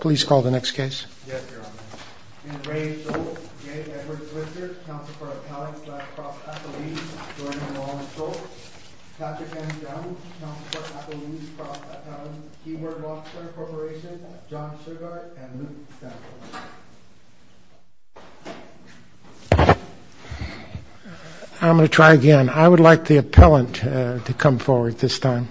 Please call the next case. I'm going to try again. I would like the appellant to come forward this time.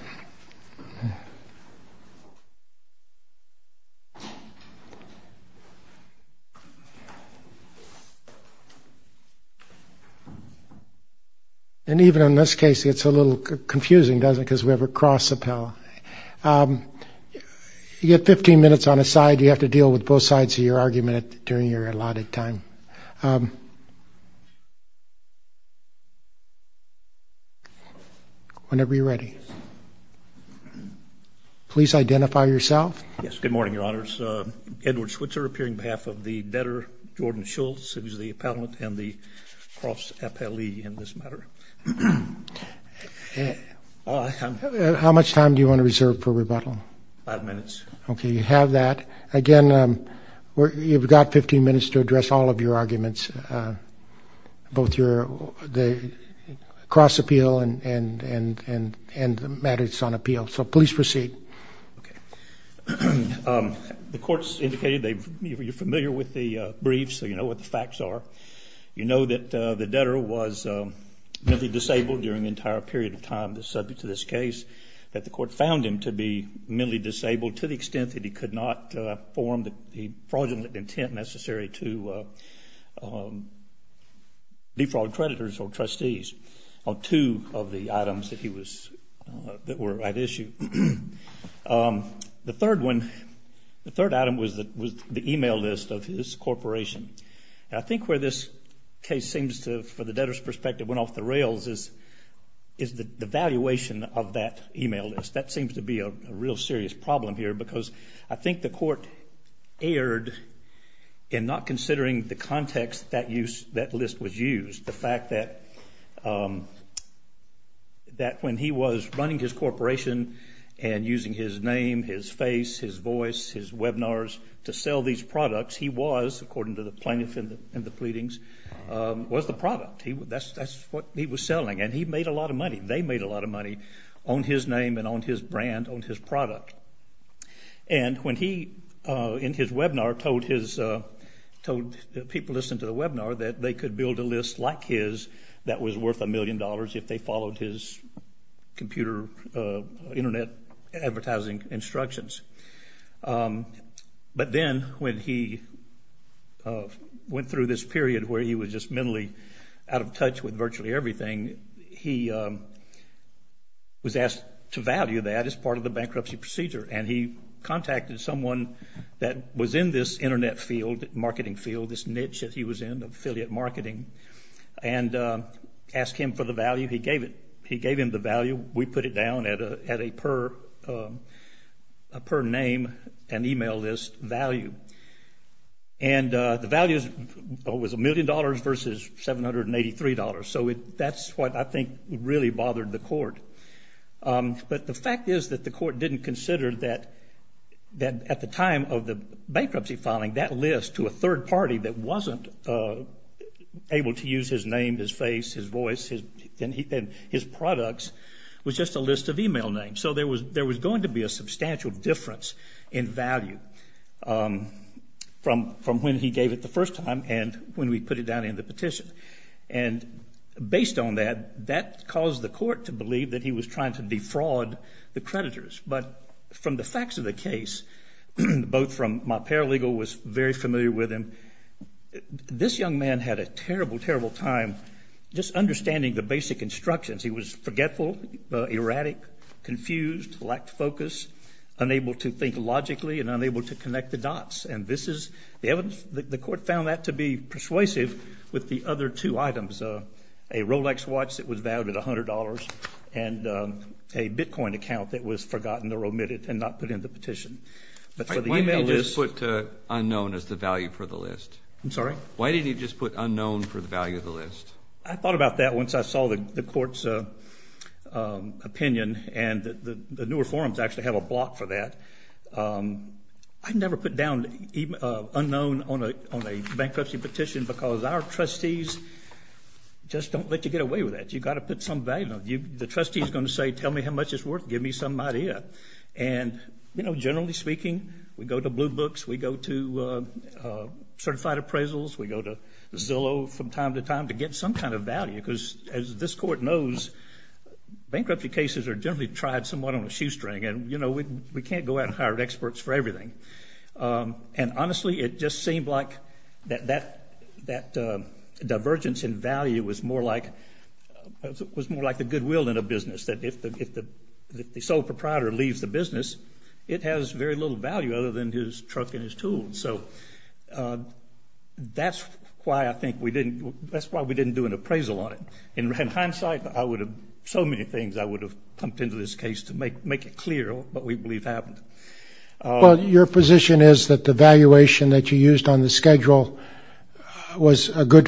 And even in this case, it's a little confusing, doesn't it? Because we have a cross appellant. You get 15 minutes on a side. You have to deal with both sides of your argument during your allotted time. Whenever you're ready. Please identify yourself. Yes. Good morning, your honors. Edward Switzer appearing behalf of the better Jordan Schultz. It was the appellant and the cross appellee in this matter. How much time do you want to reserve for rebuttal? Five minutes. Okay. You have that. Again, you've got 15 minutes to address all of your arguments. Both your cross appeal and matters on appeal. Please proceed. The court's indicated you're familiar with the briefs, so you know what the facts are. You know that the debtor was mentally disabled during the entire period of time that's subject to this case, that the court found him to be mentally disabled to the extent that he could not form the fraudulent intent necessary to defraud creditors or trustees on two of the items that were at issue. The third one, the third item was the email list of his corporation. I think where this case seems to, for the debtor's perspective, went off the rails is the valuation of that email list. That seems to be a real serious problem here because I think the court erred in not considering the context that that list was used, the fact that when he was running his corporation and using his name, his face, his voice, his webinars to sell these products, he was, according to the plaintiff in the pleadings, was the product. That's what he was selling, and he made a lot of money. They made a lot of money on his name and on his brand, on his product. And when he, in his webinar, told people listening to the webinar that they could build a list like his that was worth a million dollars if they followed his computer internet advertising instructions. But then when he went through this period where he was just mentally out of touch with And he contacted someone that was in this internet field, marketing field, this niche that he was in, affiliate marketing, and asked him for the value. He gave it. He gave him the value. We put it down at a per name and email list value. And the value was a million dollars versus $783. So that's what I think really bothered the court. But the fact is that the court didn't consider that at the time of the bankruptcy filing, that list to a third party that wasn't able to use his name, his face, his voice, and his products was just a list of email names. So there was going to be a substantial difference in value from when he gave it the first time and when we put it down in the petition. And based on that, that caused the court to believe that he was trying to defraud the creditors. But from the facts of the case, both from my paralegal was very familiar with him, this young man had a terrible, terrible time just understanding the basic instructions. He was forgetful, erratic, confused, lacked focus, unable to think logically, and unable to connect the dots. And the court found that to be persuasive with the other two items, a Rolex watch that was valued at $100 and a Bitcoin account that was forgotten or omitted and not put in the petition. But for the email list... Why didn't you just put unknown as the value for the list? I'm sorry? Why didn't you just put unknown for the value of the list? I thought about that once I saw the court's opinion and the newer forms actually have a block for that. I never put down unknown on a bankruptcy petition because our trustees just don't let you get away with that. You've got to put some value on it. The trustee is going to say, tell me how much it's worth, give me some idea. And generally speaking, we go to blue books, we go to certified appraisals, we go to Zillow from time to time to get some kind of value. Because as this court knows, bankruptcy cases are generally tried somewhat on a shoestring. We can't go out and hire experts for everything. And honestly, it just seemed like that divergence in value was more like the goodwill in a business. That if the sole proprietor leaves the business, it has very little value other than his truck and his tools. So that's why I think we didn't do an appraisal on it. In hindsight, so many things I would have pumped into this case to make it clear what we believe happened. Well, your position is that the valuation that you used on the schedule was a good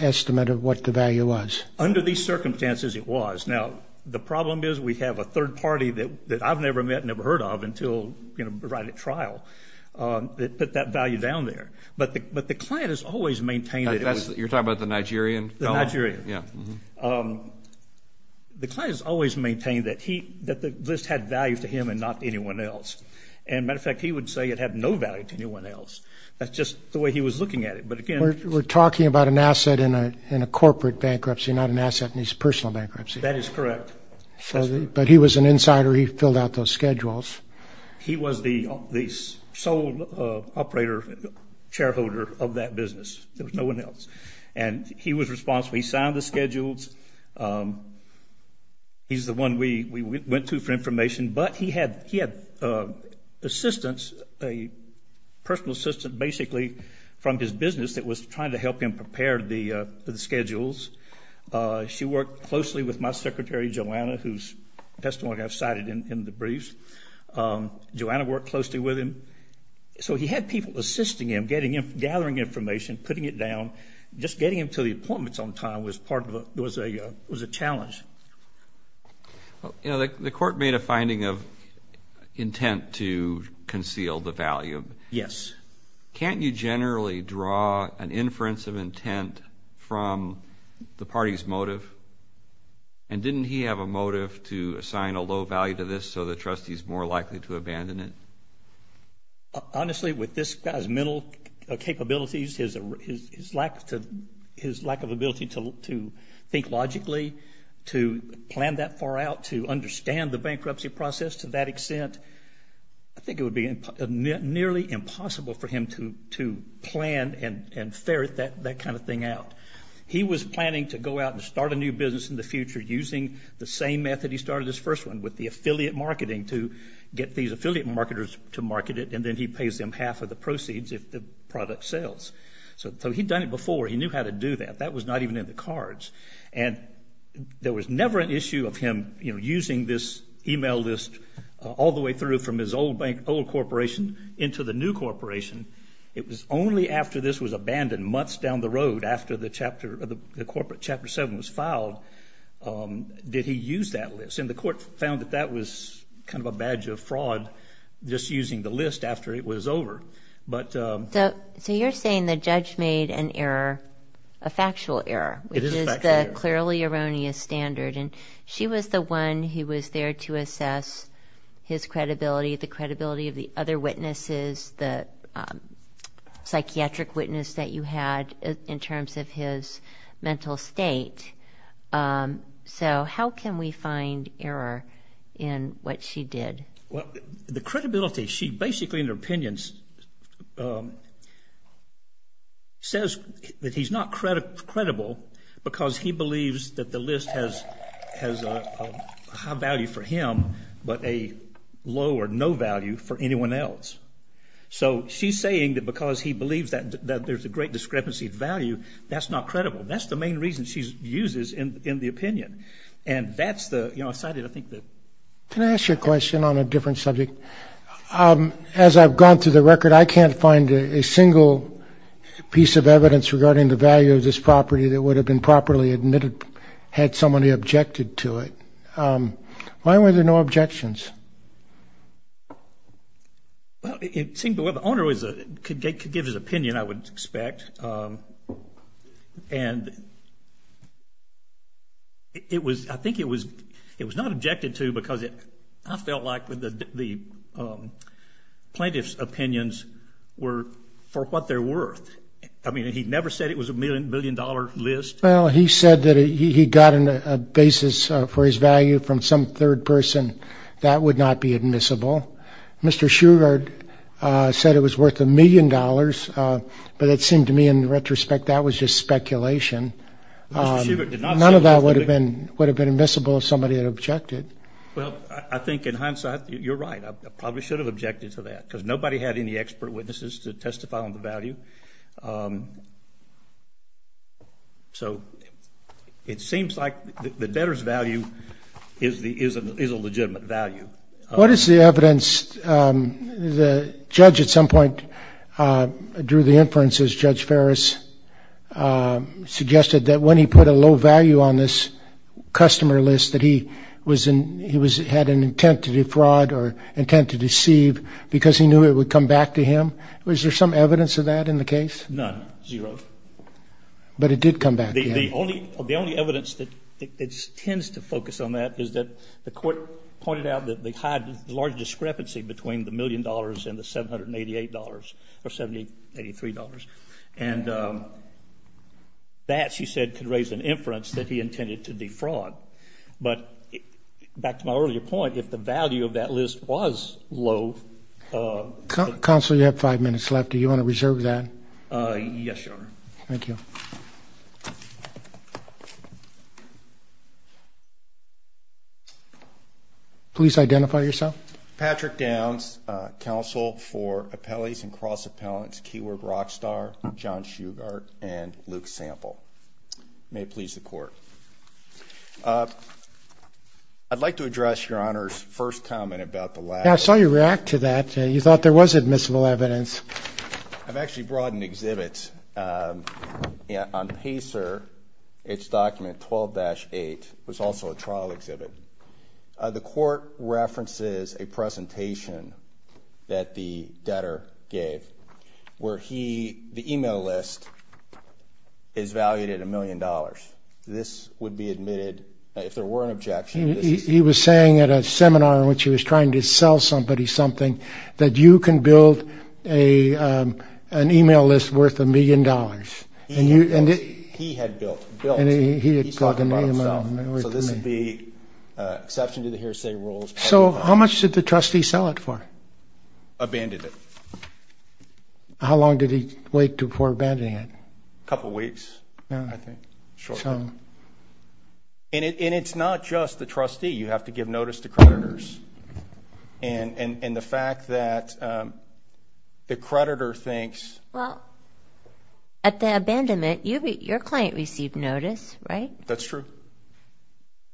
estimate of what the value was. Under these circumstances, it was. Now, the problem is we have a third party that I've never met, never heard of until right at trial that put that value down there. But the client has always maintained it. You're talking about the Nigerian? The Nigerian. The client has always maintained that the list had value to him and not anyone else. And matter of fact, he would say it had no value to anyone else. That's just the way he was looking at it. We're talking about an asset in a corporate bankruptcy, not an asset in his personal bankruptcy. That is correct. But he was an insider. He filled out those schedules. He was the sole operator, shareholder of that business. There was no one else. And he was responsible. He signed the schedules. He's the one we went to for information. But he had assistance, a personal assistant, basically, from his business that was trying to help him prepare the schedules. She worked closely with my secretary, Joanna, whose testimony I've cited in the briefs. Joanna worked closely with him. So he had people assisting him, gathering information, putting it down, just getting him to the appointments on time was a challenge. The court made a finding of intent to conceal the value. Yes. Can't you generally draw an inference of intent from the party's motive? And didn't he have a motive to assign a low value to this so the trustee's more likely to abandon it? Honestly, with this guy's mental capabilities, his lack of ability to think logically, to plan that far out, to understand the bankruptcy process to that extent, I think it would be nearly impossible for him to plan and ferret that kind of thing out. He was planning to go out and start a new business in the future using the same method he started his first one, with the affiliate marketing, to get these affiliate marketers to market it, and then he pays them half of the proceeds if the product sells. So he'd done it before. He knew how to do that. That was not even in the cards. And there was never an issue of him, you know, using this email list all the way through from his old bank, old corporation, into the new corporation. It was only after this was abandoned months down the road, after the chapter, the corporate found that that was kind of a badge of fraud, just using the list after it was over. So you're saying the judge made an error, a factual error, which is the clearly erroneous standard, and she was the one who was there to assess his credibility, the credibility of the other witnesses, the psychiatric witness that you had in terms of his mental state. So how can we find error in what she did? Well, the credibility, she basically, in her opinions, says that he's not credible because he believes that the list has a high value for him, but a low or no value for anyone else. So she's saying that because he believes that there's a great discrepancy of value, that's not credible. That's the main reason she uses in the opinion. And that's the, you know, I cited, I think, the... Can I ask you a question on a different subject? As I've gone through the record, I can't find a single piece of evidence regarding the value of this property that would have been properly admitted had somebody objected to it. Why were there no objections? Well, it seemed the owner could give his opinion, I would expect, and it was, I think it was not objected to because I felt like the plaintiff's opinions were for what they're worth. I mean, he never said it was a million-dollar list. Well, he said that he got a basis for his value from some third person. That would not be admissible. Mr. Shugart said it was worth a million dollars, but it seemed to me, in retrospect, that was just speculation. None of that would have been admissible if somebody had objected. Well, I think, in hindsight, you're right. I probably should have objected to that because nobody had any expert witnesses to testify on the value. So it seems like the debtor's value is a legitimate value. What is the evidence? The judge at some point drew the inference, as Judge Ferris suggested, that when he put a low value on this customer list that he had an intent to defraud or intent to deceive because he knew it would come back to him. Was there some evidence of that in the case? None, zero. But it did come back to him. The only evidence that tends to focus on that is that the court pointed out that they had a large discrepancy between the million dollars and the $783. And that, she said, could raise an inference that he intended to defraud. But back to my earlier point, if the value of that list was low... Counsel, you have five minutes left. Do you want to reserve that? Yes, Your Honor. Thank you. Please identify yourself. Patrick Downs, Counsel for Appellees and Cross-Appellants, Keyword Rockstar, John Shugart, and Luke Sample. May it please the Court. I'd like to address Your Honor's first comment about the lack... Yeah, I saw you react to that. You thought there was admissible evidence. I've actually brought an exhibit on PACER. It's document 12-8. It was also a trial exhibit. The court references a presentation that the debtor gave where he, the e-mail list, is valued at a million dollars. This would be admitted, if there were an objection... He was saying at a seminar in which he was trying to sell somebody something, that you can build an e-mail list worth a million dollars. He had built. He's talking about himself. So this would be an exception to the hearsay rules. So how much did the trustee sell it for? Abandoned it. How long did he wait before abandoning it? A couple weeks, I think. And it's not just the trustee. You have to give notice to creditors. And the fact that the creditor thinks... Well, at the abandonment, your client received notice, right? That's true.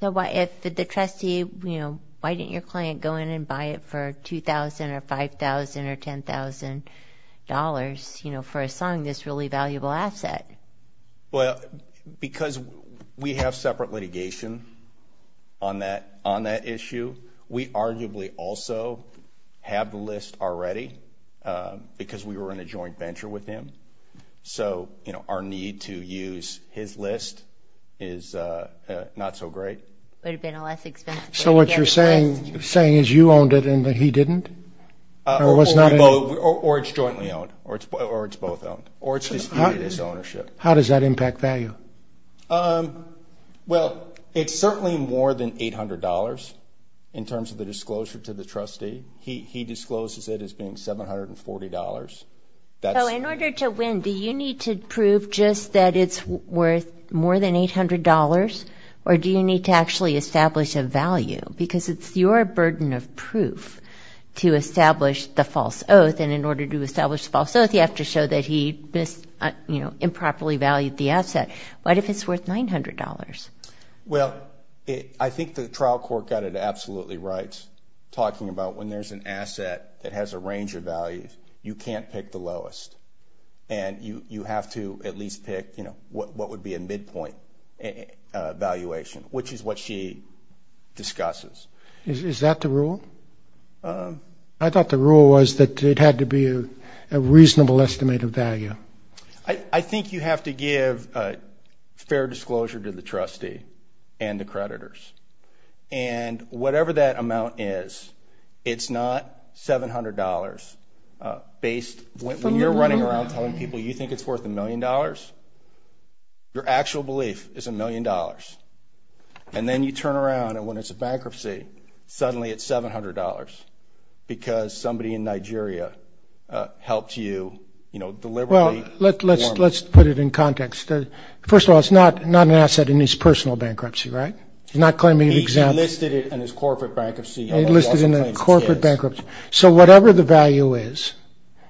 So if the trustee, you know, why didn't your client go in and buy it for $2,000 or $5,000 or $10,000 for selling this really valuable asset? Well, because we have separate litigation on that issue. We arguably also have the list already, because we were in a joint venture with him. So, you know, our need to use his list is not so great. So what you're saying is you owned it and he didn't? Or it's jointly owned? Or it's both owned? How does that impact value? Well, it's certainly more than $800 in terms of the disclosure to the trustee. He discloses it as being $740. So in order to win, do you need to prove just that it's worth more than $800? Or do you need to actually establish a value? Because it's your burden of proof to establish the false oath. And in order to establish the false oath, you have to show that he improperly valued the asset. What if it's worth $900? Well, I think the trial court got it absolutely right, talking about when there's an asset that has a range of values, you can't pick the lowest. And you have to at least pick, you know, what would be a midpoint valuation, which is what she discusses. Is that the rule? I thought the rule was that it had to be a reasonable estimate of value. I think you have to give fair disclosure to the trustee and the creditors. And whatever that amount is, it's not $700 based. When you're running around telling people you think it's worth a million dollars, your actual belief is a million dollars. And then you turn around and when it's a bankruptcy, suddenly it's $700, because somebody in Nigeria helped you, you know, deliberately. Well, let's put it in context. First of all, it's not an asset in his personal bankruptcy, right? He's not claiming an example. He listed it in his corporate bankruptcy. He listed it in the corporate bankruptcy. So whatever the value is,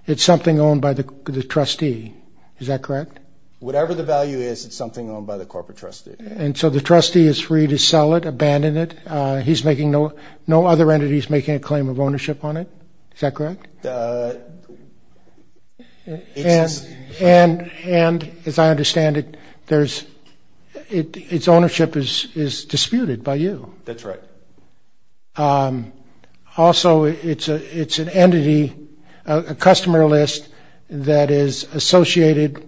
it's something owned by the trustee, is that correct? Whatever the value is, it's something owned by the corporate trustee. And so the trustee is free to sell it, abandon it. No other entity is making a claim of ownership on it, is that correct? And as I understand it, its ownership is disputed by you. That's right. Also, it's an entity, a customer list that is associated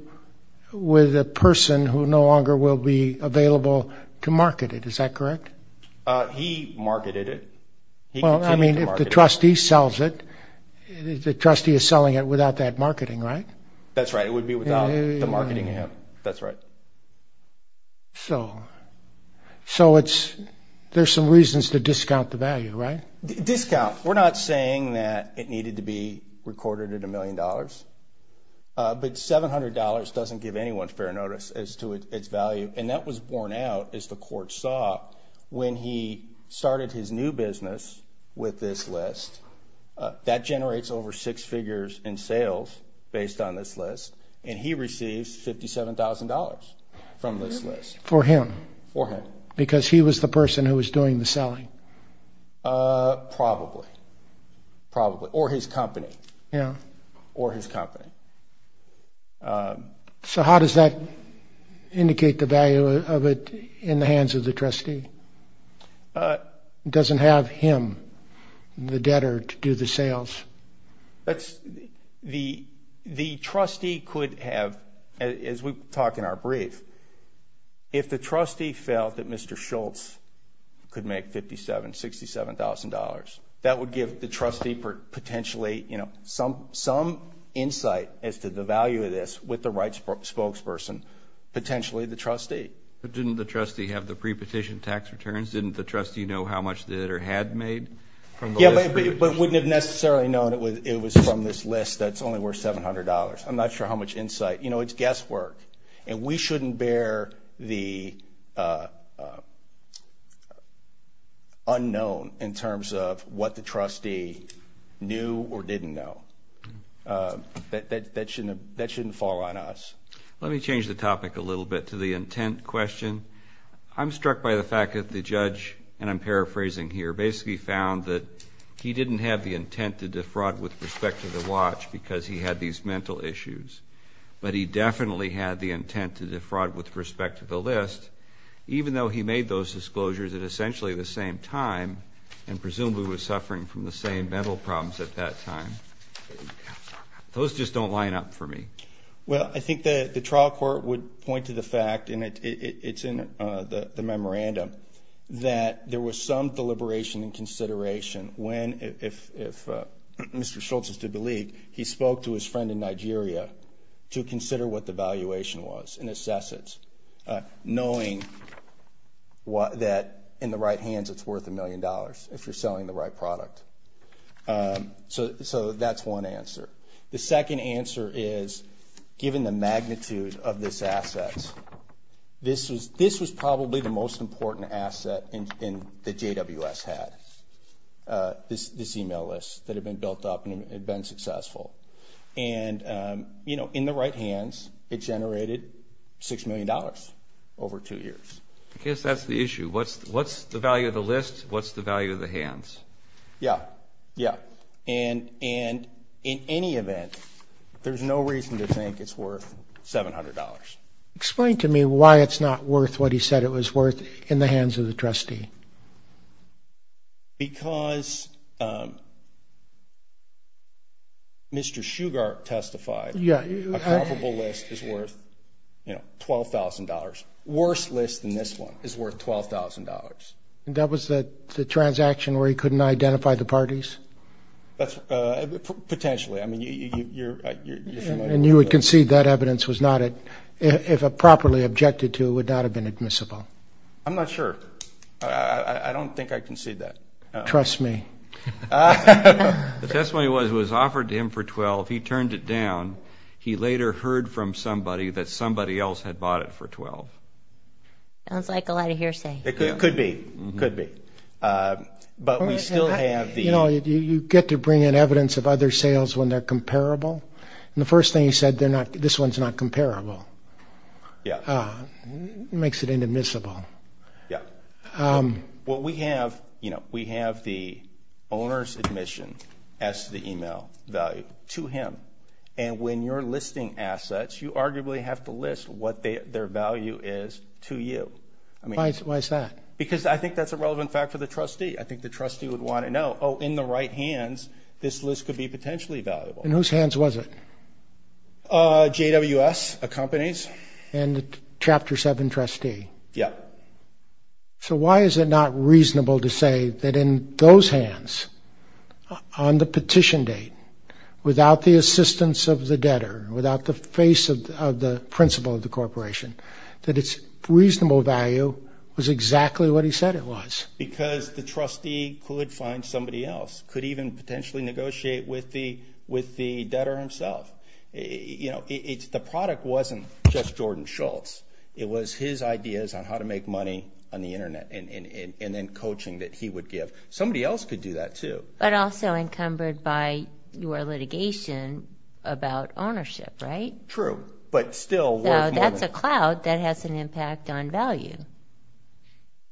with a person who no longer will be available to market it. Is that correct? He marketed it. Well, I mean, if the trustee sells it, the trustee is selling it without that marketing, right? That's right. It would be without the marketing of him. That's right. So there's some reasons to discount the value, right? Discount. We're not saying that it needed to be recorded at a million dollars. But $700 doesn't give anyone fair notice as to its value. And that was borne out, as the court saw, when he started his new business with this list. That generates over six figures in sales based on this list. And he receives $57,000 from this list. For him? For him. Because he was the person who was doing the selling? Probably. Probably. Or his company. Yeah. Or his company. So how does that indicate the value of it in the hands of the trustee? It doesn't have him, the debtor, to do the sales? The trustee could have, as we talk in our brief, if the trustee felt that Mr. Schultz could make $57,000, $67,000, that would give the trustee potentially some insight as to the value of this with the right spokesperson, potentially the trustee. But didn't the trustee have the prepetition tax returns? Didn't the trustee know how much the debtor had made from the list? Yeah, but wouldn't have necessarily known it was from this list that's only worth $700. I'm not sure how much insight. You know, it's guesswork. And we shouldn't bear the unknown in terms of what the trustee knew or didn't know. That shouldn't fall on us. Let me change the topic a little bit to the intent question. I'm struck by the fact that the judge, and I'm paraphrasing here, basically found that he didn't have the intent to defraud with respect to the watch because he had these mental issues, but he definitely had the intent to defraud with respect to the list, even though he made those disclosures at essentially the same time and presumably was suffering from the same mental problems at that time. Those just don't line up for me. Well, I think the trial court would point to the fact, and it's in the memorandum, that there was some deliberation and consideration when, if Mr. Schultz is to believe, he spoke to his friend in Nigeria to consider what the valuation was and assess it, knowing that in the right hands it's worth a million dollars if you're selling the right product. So that's one answer. The second answer is, given the magnitude of this asset, this was probably the most important asset that JWS had, this email list, that had been built up and had been successful. And, you know, in the right hands, it generated $6 million over two years. I guess that's the issue. What's the value of the list? What's the value of the hands? Yeah, yeah. And in any event, there's no reason to think it's worth $700. Explain to me why it's not worth what he said it was worth in the hands of the trustee. Because Mr. Shugart testified a probable list is worth, you know, $12,000. Worse list than this one is worth $12,000. And that was the transaction where he couldn't identify the parties? Potentially. I mean, you're familiar with that. And you would concede that evidence was not, if properly objected to, would not have been admissible? I'm not sure. I don't think I concede that. The testimony was it was offered to him for $12,000. He turned it down. He later heard from somebody that somebody else had bought it for $12,000. Sounds like a lot of hearsay. It could be. It could be. But we still have the... You know, you get to bring in evidence of other sales when they're comparable. And the first thing he said, this one's not comparable. Yeah. Makes it inadmissible. Yeah. Well, we have, you know, we have the owner's admission as to the email value to him. And when you're listing assets, you arguably have to list what their value is to you. Why is that? Because I think that's a relevant fact for the trustee. I think the trustee would want to know, oh, in the right hands, this list could be potentially valuable. In whose hands was it? JWS, a company's. And the Chapter 7 trustee? Yeah. So why is it not reasonable to say that in those hands, on the petition date, without the assistance of the debtor, without the face of the principal of the corporation, that its reasonable value was exactly what he said it was? Because the trustee could find somebody else, could even potentially negotiate with the debtor himself. You know, the product wasn't just Jordan Schultz. It was his ideas on how to make money on the Internet and then coaching that he would give. Somebody else could do that, too. But also encumbered by your litigation about ownership, right? True, but still worth more than. So that's a clout that has an impact on value.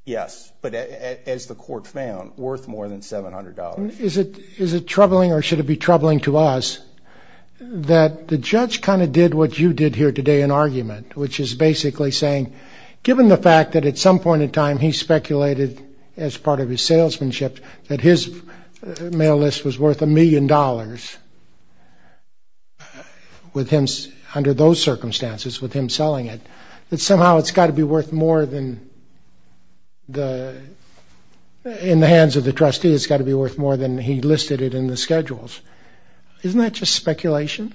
Yes, but as the court found, worth more than $700. Is it troubling or should it be troubling to us that the judge kind of did what you did here today in argument, which is basically saying given the fact that at some point in time he speculated as part of his salesmanship that his mail list was worth a million dollars under those circumstances with him selling it, that somehow it's got to be worth more than in the hands of the trustee. It's got to be worth more than he listed it in the schedules. Isn't that just speculation?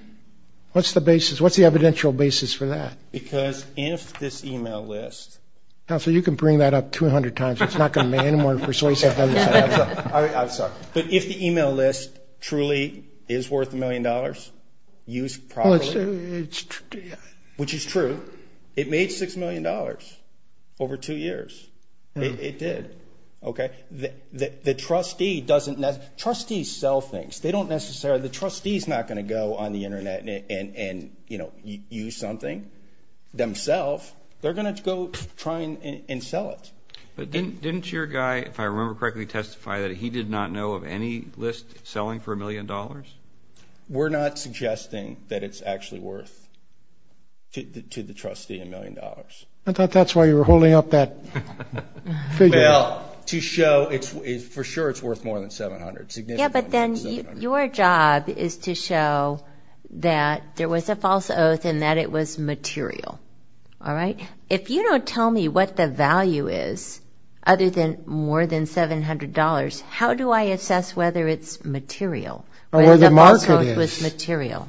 What's the basis? What's the evidential basis for that? Because if this email list. Counsel, you can bring that up 200 times. It's not going to be any more persuasive than this. I'm sorry. But if the email list truly is worth a million dollars, used properly, which is true, it made $6 million over two years. It did. OK. The trustee doesn't know. Trustees sell things. They don't necessarily. The trustee is not going to go on the Internet and, you know, use something themselves. They're going to go try and sell it. But didn't your guy, if I remember correctly, testify that he did not know of any list selling for a million dollars? We're not suggesting that it's actually worth to the trustee a million dollars. I thought that's why you were holding up that figure. Well, to show for sure it's worth more than $700. Yeah, but then your job is to show that there was a false oath and that it was material. All right? If you don't tell me what the value is other than more than $700, how do I assess whether it's material? Or where the market is.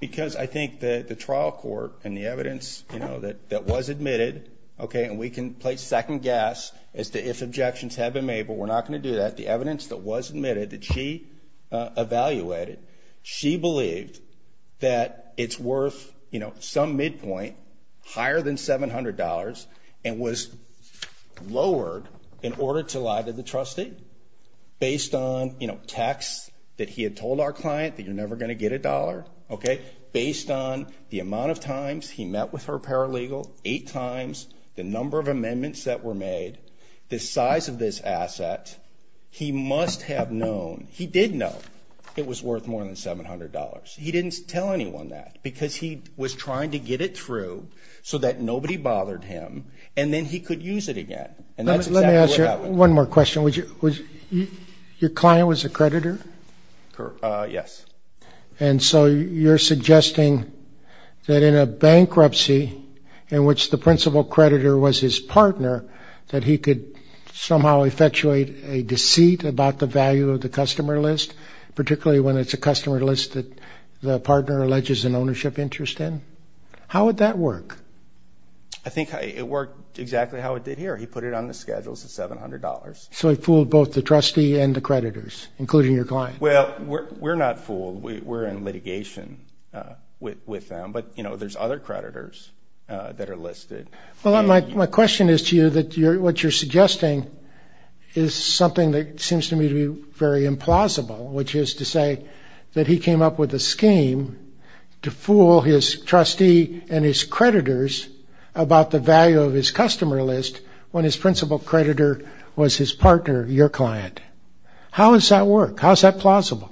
Because I think the trial court and the evidence, you know, that was admitted, OK, and we can place second guess as to if objections have been made, but we're not going to do that. The evidence that was admitted that she evaluated, she believed that it's worth, you know, some midpoint, higher than $700 and was lowered in order to lie to the trustee based on, you know, texts that he had told our client that you're never going to get a dollar, OK, based on the amount of times he met with her paralegal, eight times the number of amendments that were made, the size of this asset, he must have known, he did know it was worth more than $700. He didn't tell anyone that because he was trying to get it through so that nobody bothered him, and then he could use it again. And that's exactly what happened. Let me ask you one more question. Your client was a creditor? Yes. And so you're suggesting that in a bankruptcy in which the principal creditor was his partner, that he could somehow effectuate a deceit about the value of the customer list, particularly when it's a customer list that the partner alleges an ownership interest in? How would that work? I think it worked exactly how it did here. He put it on the schedules at $700. So he fooled both the trustee and the creditors, including your client? Well, we're not fooled. We're in litigation with them. But, you know, there's other creditors that are listed. Well, my question is to you that what you're suggesting is something that seems to me to be very implausible, which is to say that he came up with a scheme to fool his trustee and his creditors about the value of his customer list when his principal creditor was his partner, your client. How does that work? How is that plausible?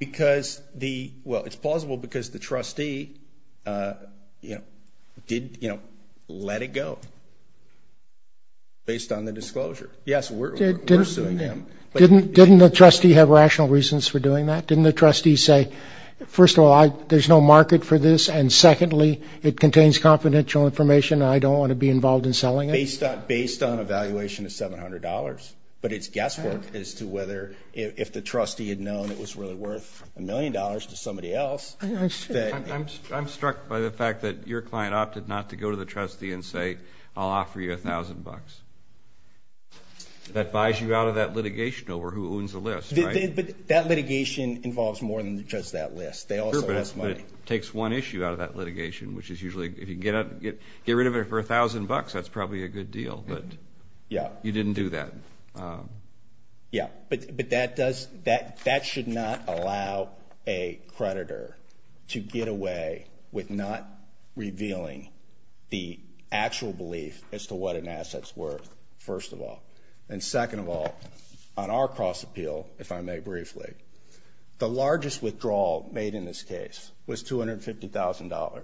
Well, it's plausible because the trustee, you know, let it go based on the disclosure. Yes, we're suing him. Didn't the trustee have rational reasons for doing that? Didn't the trustee say, first of all, there's no market for this, and secondly, it contains confidential information and I don't want to be involved in selling it? Based on a valuation of $700. But it's guesswork as to whether if the trustee had known it was really worth $1 million to somebody else. I'm struck by the fact that your client opted not to go to the trustee and say, I'll offer you $1,000. That buys you out of that litigation over who owns the list, right? But that litigation involves more than just that list. They also ask money. Sure, but it takes one issue out of that litigation, which is usually if you can get rid of it for $1,000, that's probably a good deal. Yeah. You didn't do that. Yeah, but that should not allow a creditor to get away with not revealing the actual belief as to what an asset's worth, first of all. And second of all, on our cross-appeal, if I may briefly, the largest withdrawal made in this case was $250,000.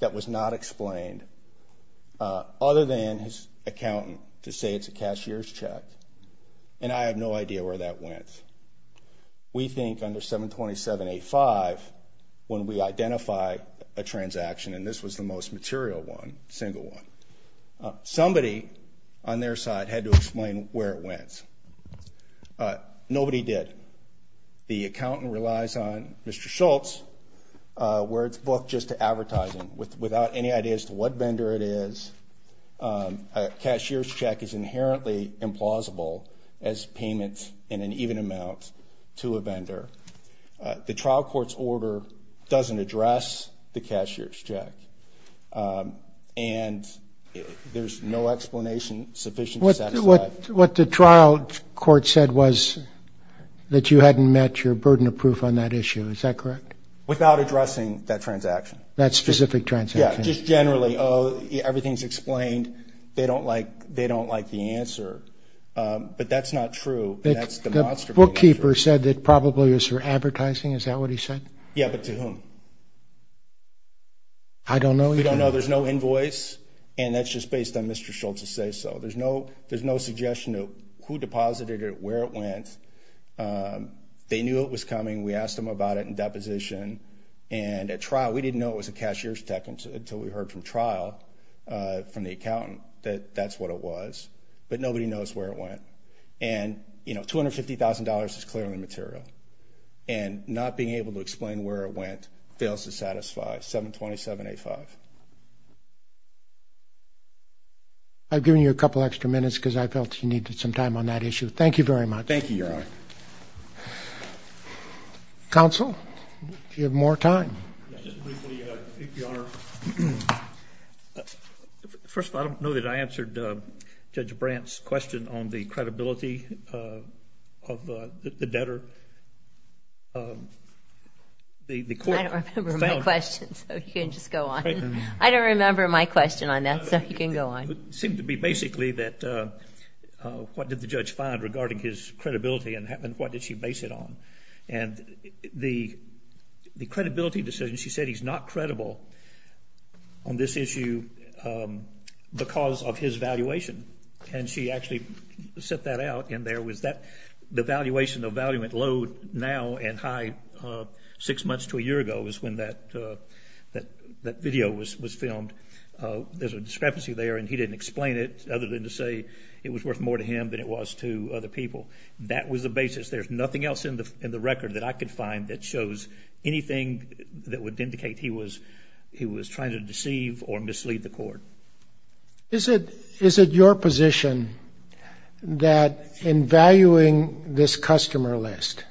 That was not explained other than his accountant to say it's a cashier's check, and I have no idea where that went. We think under 727A5, when we identify a transaction, and this was the most material one, single one, somebody on their side had to explain where it went. Nobody did. The accountant relies on Mr. Schultz, where it's booked just to advertising. Without any idea as to what vendor it is, a cashier's check is inherently implausible as payment in an even amount to a vendor. The trial court's order doesn't address the cashier's check, and there's no explanation sufficient to satisfy it. What the trial court said was that you hadn't met your burden of proof on that issue. Is that correct? Without addressing that transaction. That specific transaction. Yeah, just generally, oh, everything's explained. They don't like the answer. But that's not true, and that's demonstrably not true. The bookkeeper said that probably it was for advertising. Is that what he said? Yeah, but to whom? I don't know. We don't know. There's no invoice, and that's just based on Mr. Schultz's say-so. There's no suggestion of who deposited it, where it went. They knew it was coming. We asked them about it in deposition, and at trial, we didn't know it was a cashier's check until we heard from trial, from the accountant, that that's what it was, but nobody knows where it went. And, you know, $250,000 is clearly material, and not being able to explain where it went fails to satisfy 727A5. I've given you a couple extra minutes because I felt you needed some time on that issue. Thank you very much. Thank you, Your Honor. Counsel, do you have more time? Yes, just briefly, Your Honor. First of all, I don't know that I answered Judge Brandt's question on the credibility of the debtor. I don't remember my question, so you can just go on. I don't remember my question on that, so you can go on. It seemed to be basically that what did the judge find regarding his credibility and what did she base it on? And the credibility decision, she said he's not credible on this issue because of his valuation, and she actually set that out, and there was that, the valuation of value at low now and high six months to a year ago is when that video was filmed. There's a discrepancy there, and he didn't explain it, other than to say it was worth more to him than it was to other people. That was the basis. There's nothing else in the record that I could find that shows anything that would indicate he was trying to deceive or mislead the court. Is it your position that in valuing this customer list,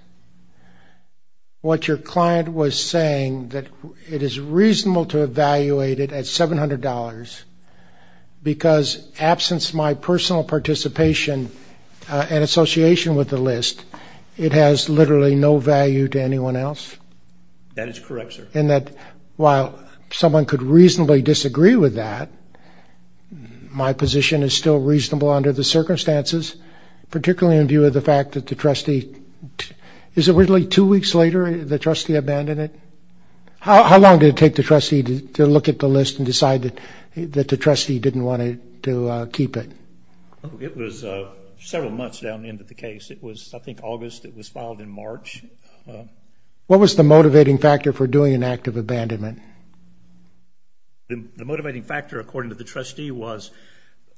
what your client was saying that it is reasonable to evaluate it at $700 because absence of my personal participation and association with the list, it has literally no value to anyone else? That is correct, sir. And that while someone could reasonably disagree with that, my position is still reasonable under the circumstances, particularly in view of the fact that the trustee, is it really two weeks later the trustee abandoned it? How long did it take the trustee to look at the list and decide that the trustee didn't want to keep it? It was several months down the end of the case. It was, I think, August. It was filed in March. What was the motivating factor for doing an act of abandonment? The motivating factor, according to the trustee, was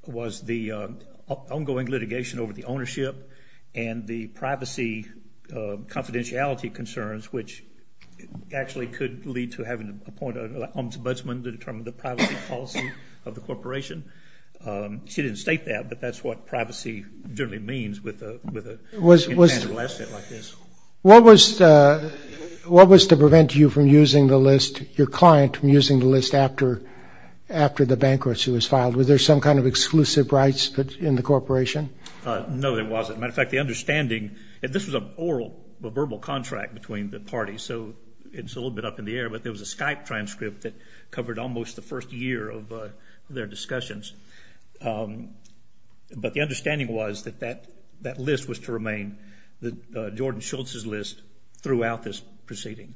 the ongoing litigation over the ownership and the privacy confidentiality concerns, which actually could lead to having to appoint an ombudsman to determine the privacy policy of the corporation. She didn't state that, but that's what privacy generally means with a mandate like this. What was to prevent you from using the list, your client, from using the list after the bankruptcy was filed? Was there some kind of exclusive rights in the corporation? No, there wasn't. As a matter of fact, the understanding, and this was an oral, a verbal contract between the parties, so it's a little bit up in the air, but there was a Skype transcript that covered almost the first year of their discussions. But the understanding was that that list was to remain, Jordan Schultz's list, throughout this proceeding.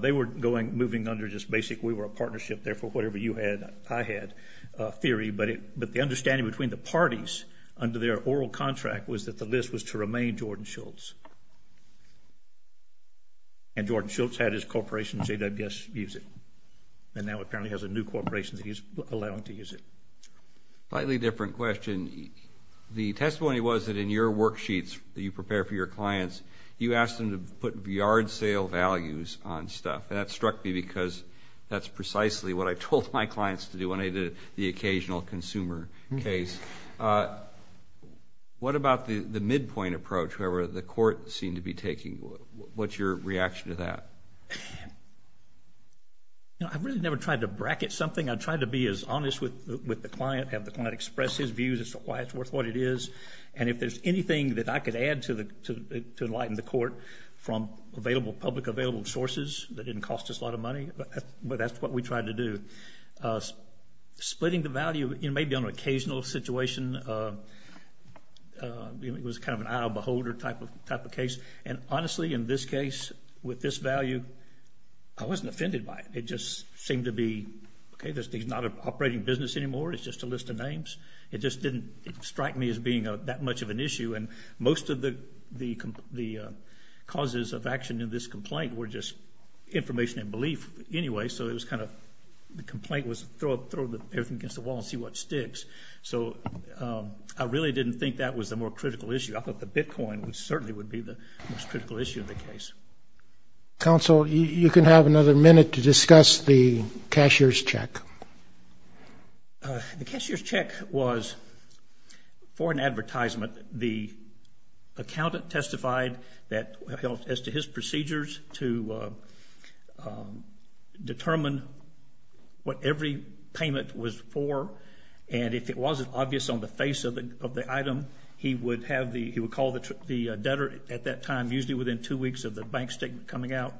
They were moving under just basic we were a partnership, therefore whatever you had, I had theory, but the understanding between the parties under their oral contract was that the list was to remain Jordan Schultz. And Jordan Schultz had his corporation, JWS, use it, and now apparently has a new corporation that he's allowing to use it. Slightly different question. The testimony was that in your worksheets that you prepare for your clients, you ask them to put yard sale values on stuff, and that struck me because that's precisely what I told my clients to do when I did the occasional consumer case. What about the midpoint approach, however, the court seemed to be taking? What's your reaction to that? I've really never tried to bracket something. I try to be as honest with the client, have the client express his views as to why it's worth what it is, and if there's anything that I could add to enlighten the court from available, public available sources that didn't cost us a lot of money, but that's what we tried to do. Splitting the value, you know, maybe on an occasional situation, it was kind of an eye of a beholder type of case, and honestly in this case with this value, I wasn't offended by it. It just seemed to be, okay, this thing's not an operating business anymore. It's just a list of names. It just didn't strike me as being that much of an issue, and most of the causes of action in this complaint were just information and belief anyway, so it was kind of the complaint was throw everything against the wall and see what sticks. So I really didn't think that was the more critical issue. I thought the bitcoin certainly would be the most critical issue in the case. Counsel, you can have another minute to discuss the cashier's check. The cashier's check was for an advertisement. The accountant testified as to his procedures to determine what every payment was for, and if it wasn't obvious on the face of the item, he would call the debtor at that time, usually within two weeks of the bank statement coming out,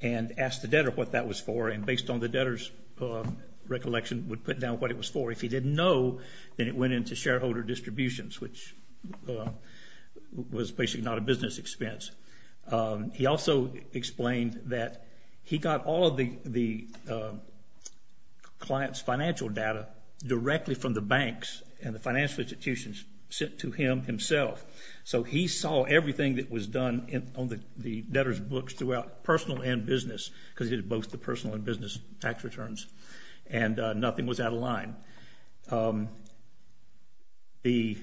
and ask the debtor what that was for, and based on the debtor's recollection, would put down what it was for. If he didn't know, then it went into shareholder distributions, which was basically not a business expense. He also explained that he got all of the client's financial data directly from the banks and the financial institutions sent to him himself, so he saw everything that was done on the debtor's books throughout personal and business because he did both the personal and business tax returns, and nothing was out of line. The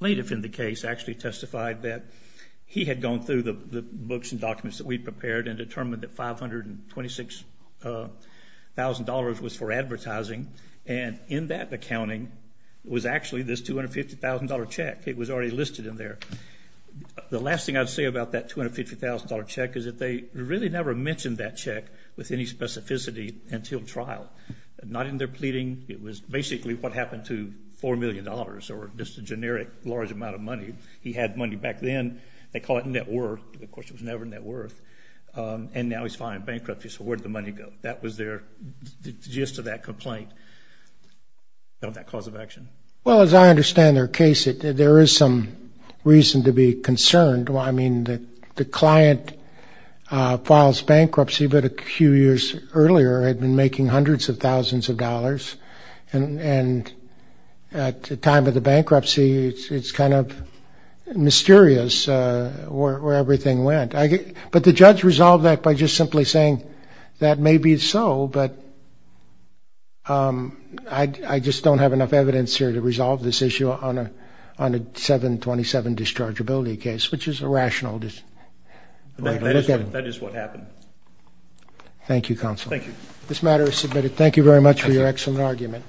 plaintiff in the case actually testified that he had gone through the books and documents that we prepared and determined that $526,000 was for advertising, and in that accounting was actually this $250,000 check. It was already listed in there. The last thing I'd say about that $250,000 check is that they really never mentioned that check with any specificity until trial, not in their pleading. It was basically what happened to $4 million or just a generic large amount of money. He had money back then. They call it net worth. Of course, it was never net worth. And now he's filing bankruptcy, so where did the money go? That was their gist of that complaint of that cause of action. Well, as I understand their case, there is some reason to be concerned. I mean, the client files bankruptcy, but a few years earlier had been making hundreds of thousands of dollars, and at the time of the bankruptcy, it's kind of mysterious where everything went. But the judge resolved that by just simply saying that maybe it's so, but I just don't have enough evidence here to resolve this issue on a 727 dischargeability case, which is a rational decision. That is what happened. Thank you, Counsel. Thank you. This matter is submitted. Thank you very much for your excellent argument.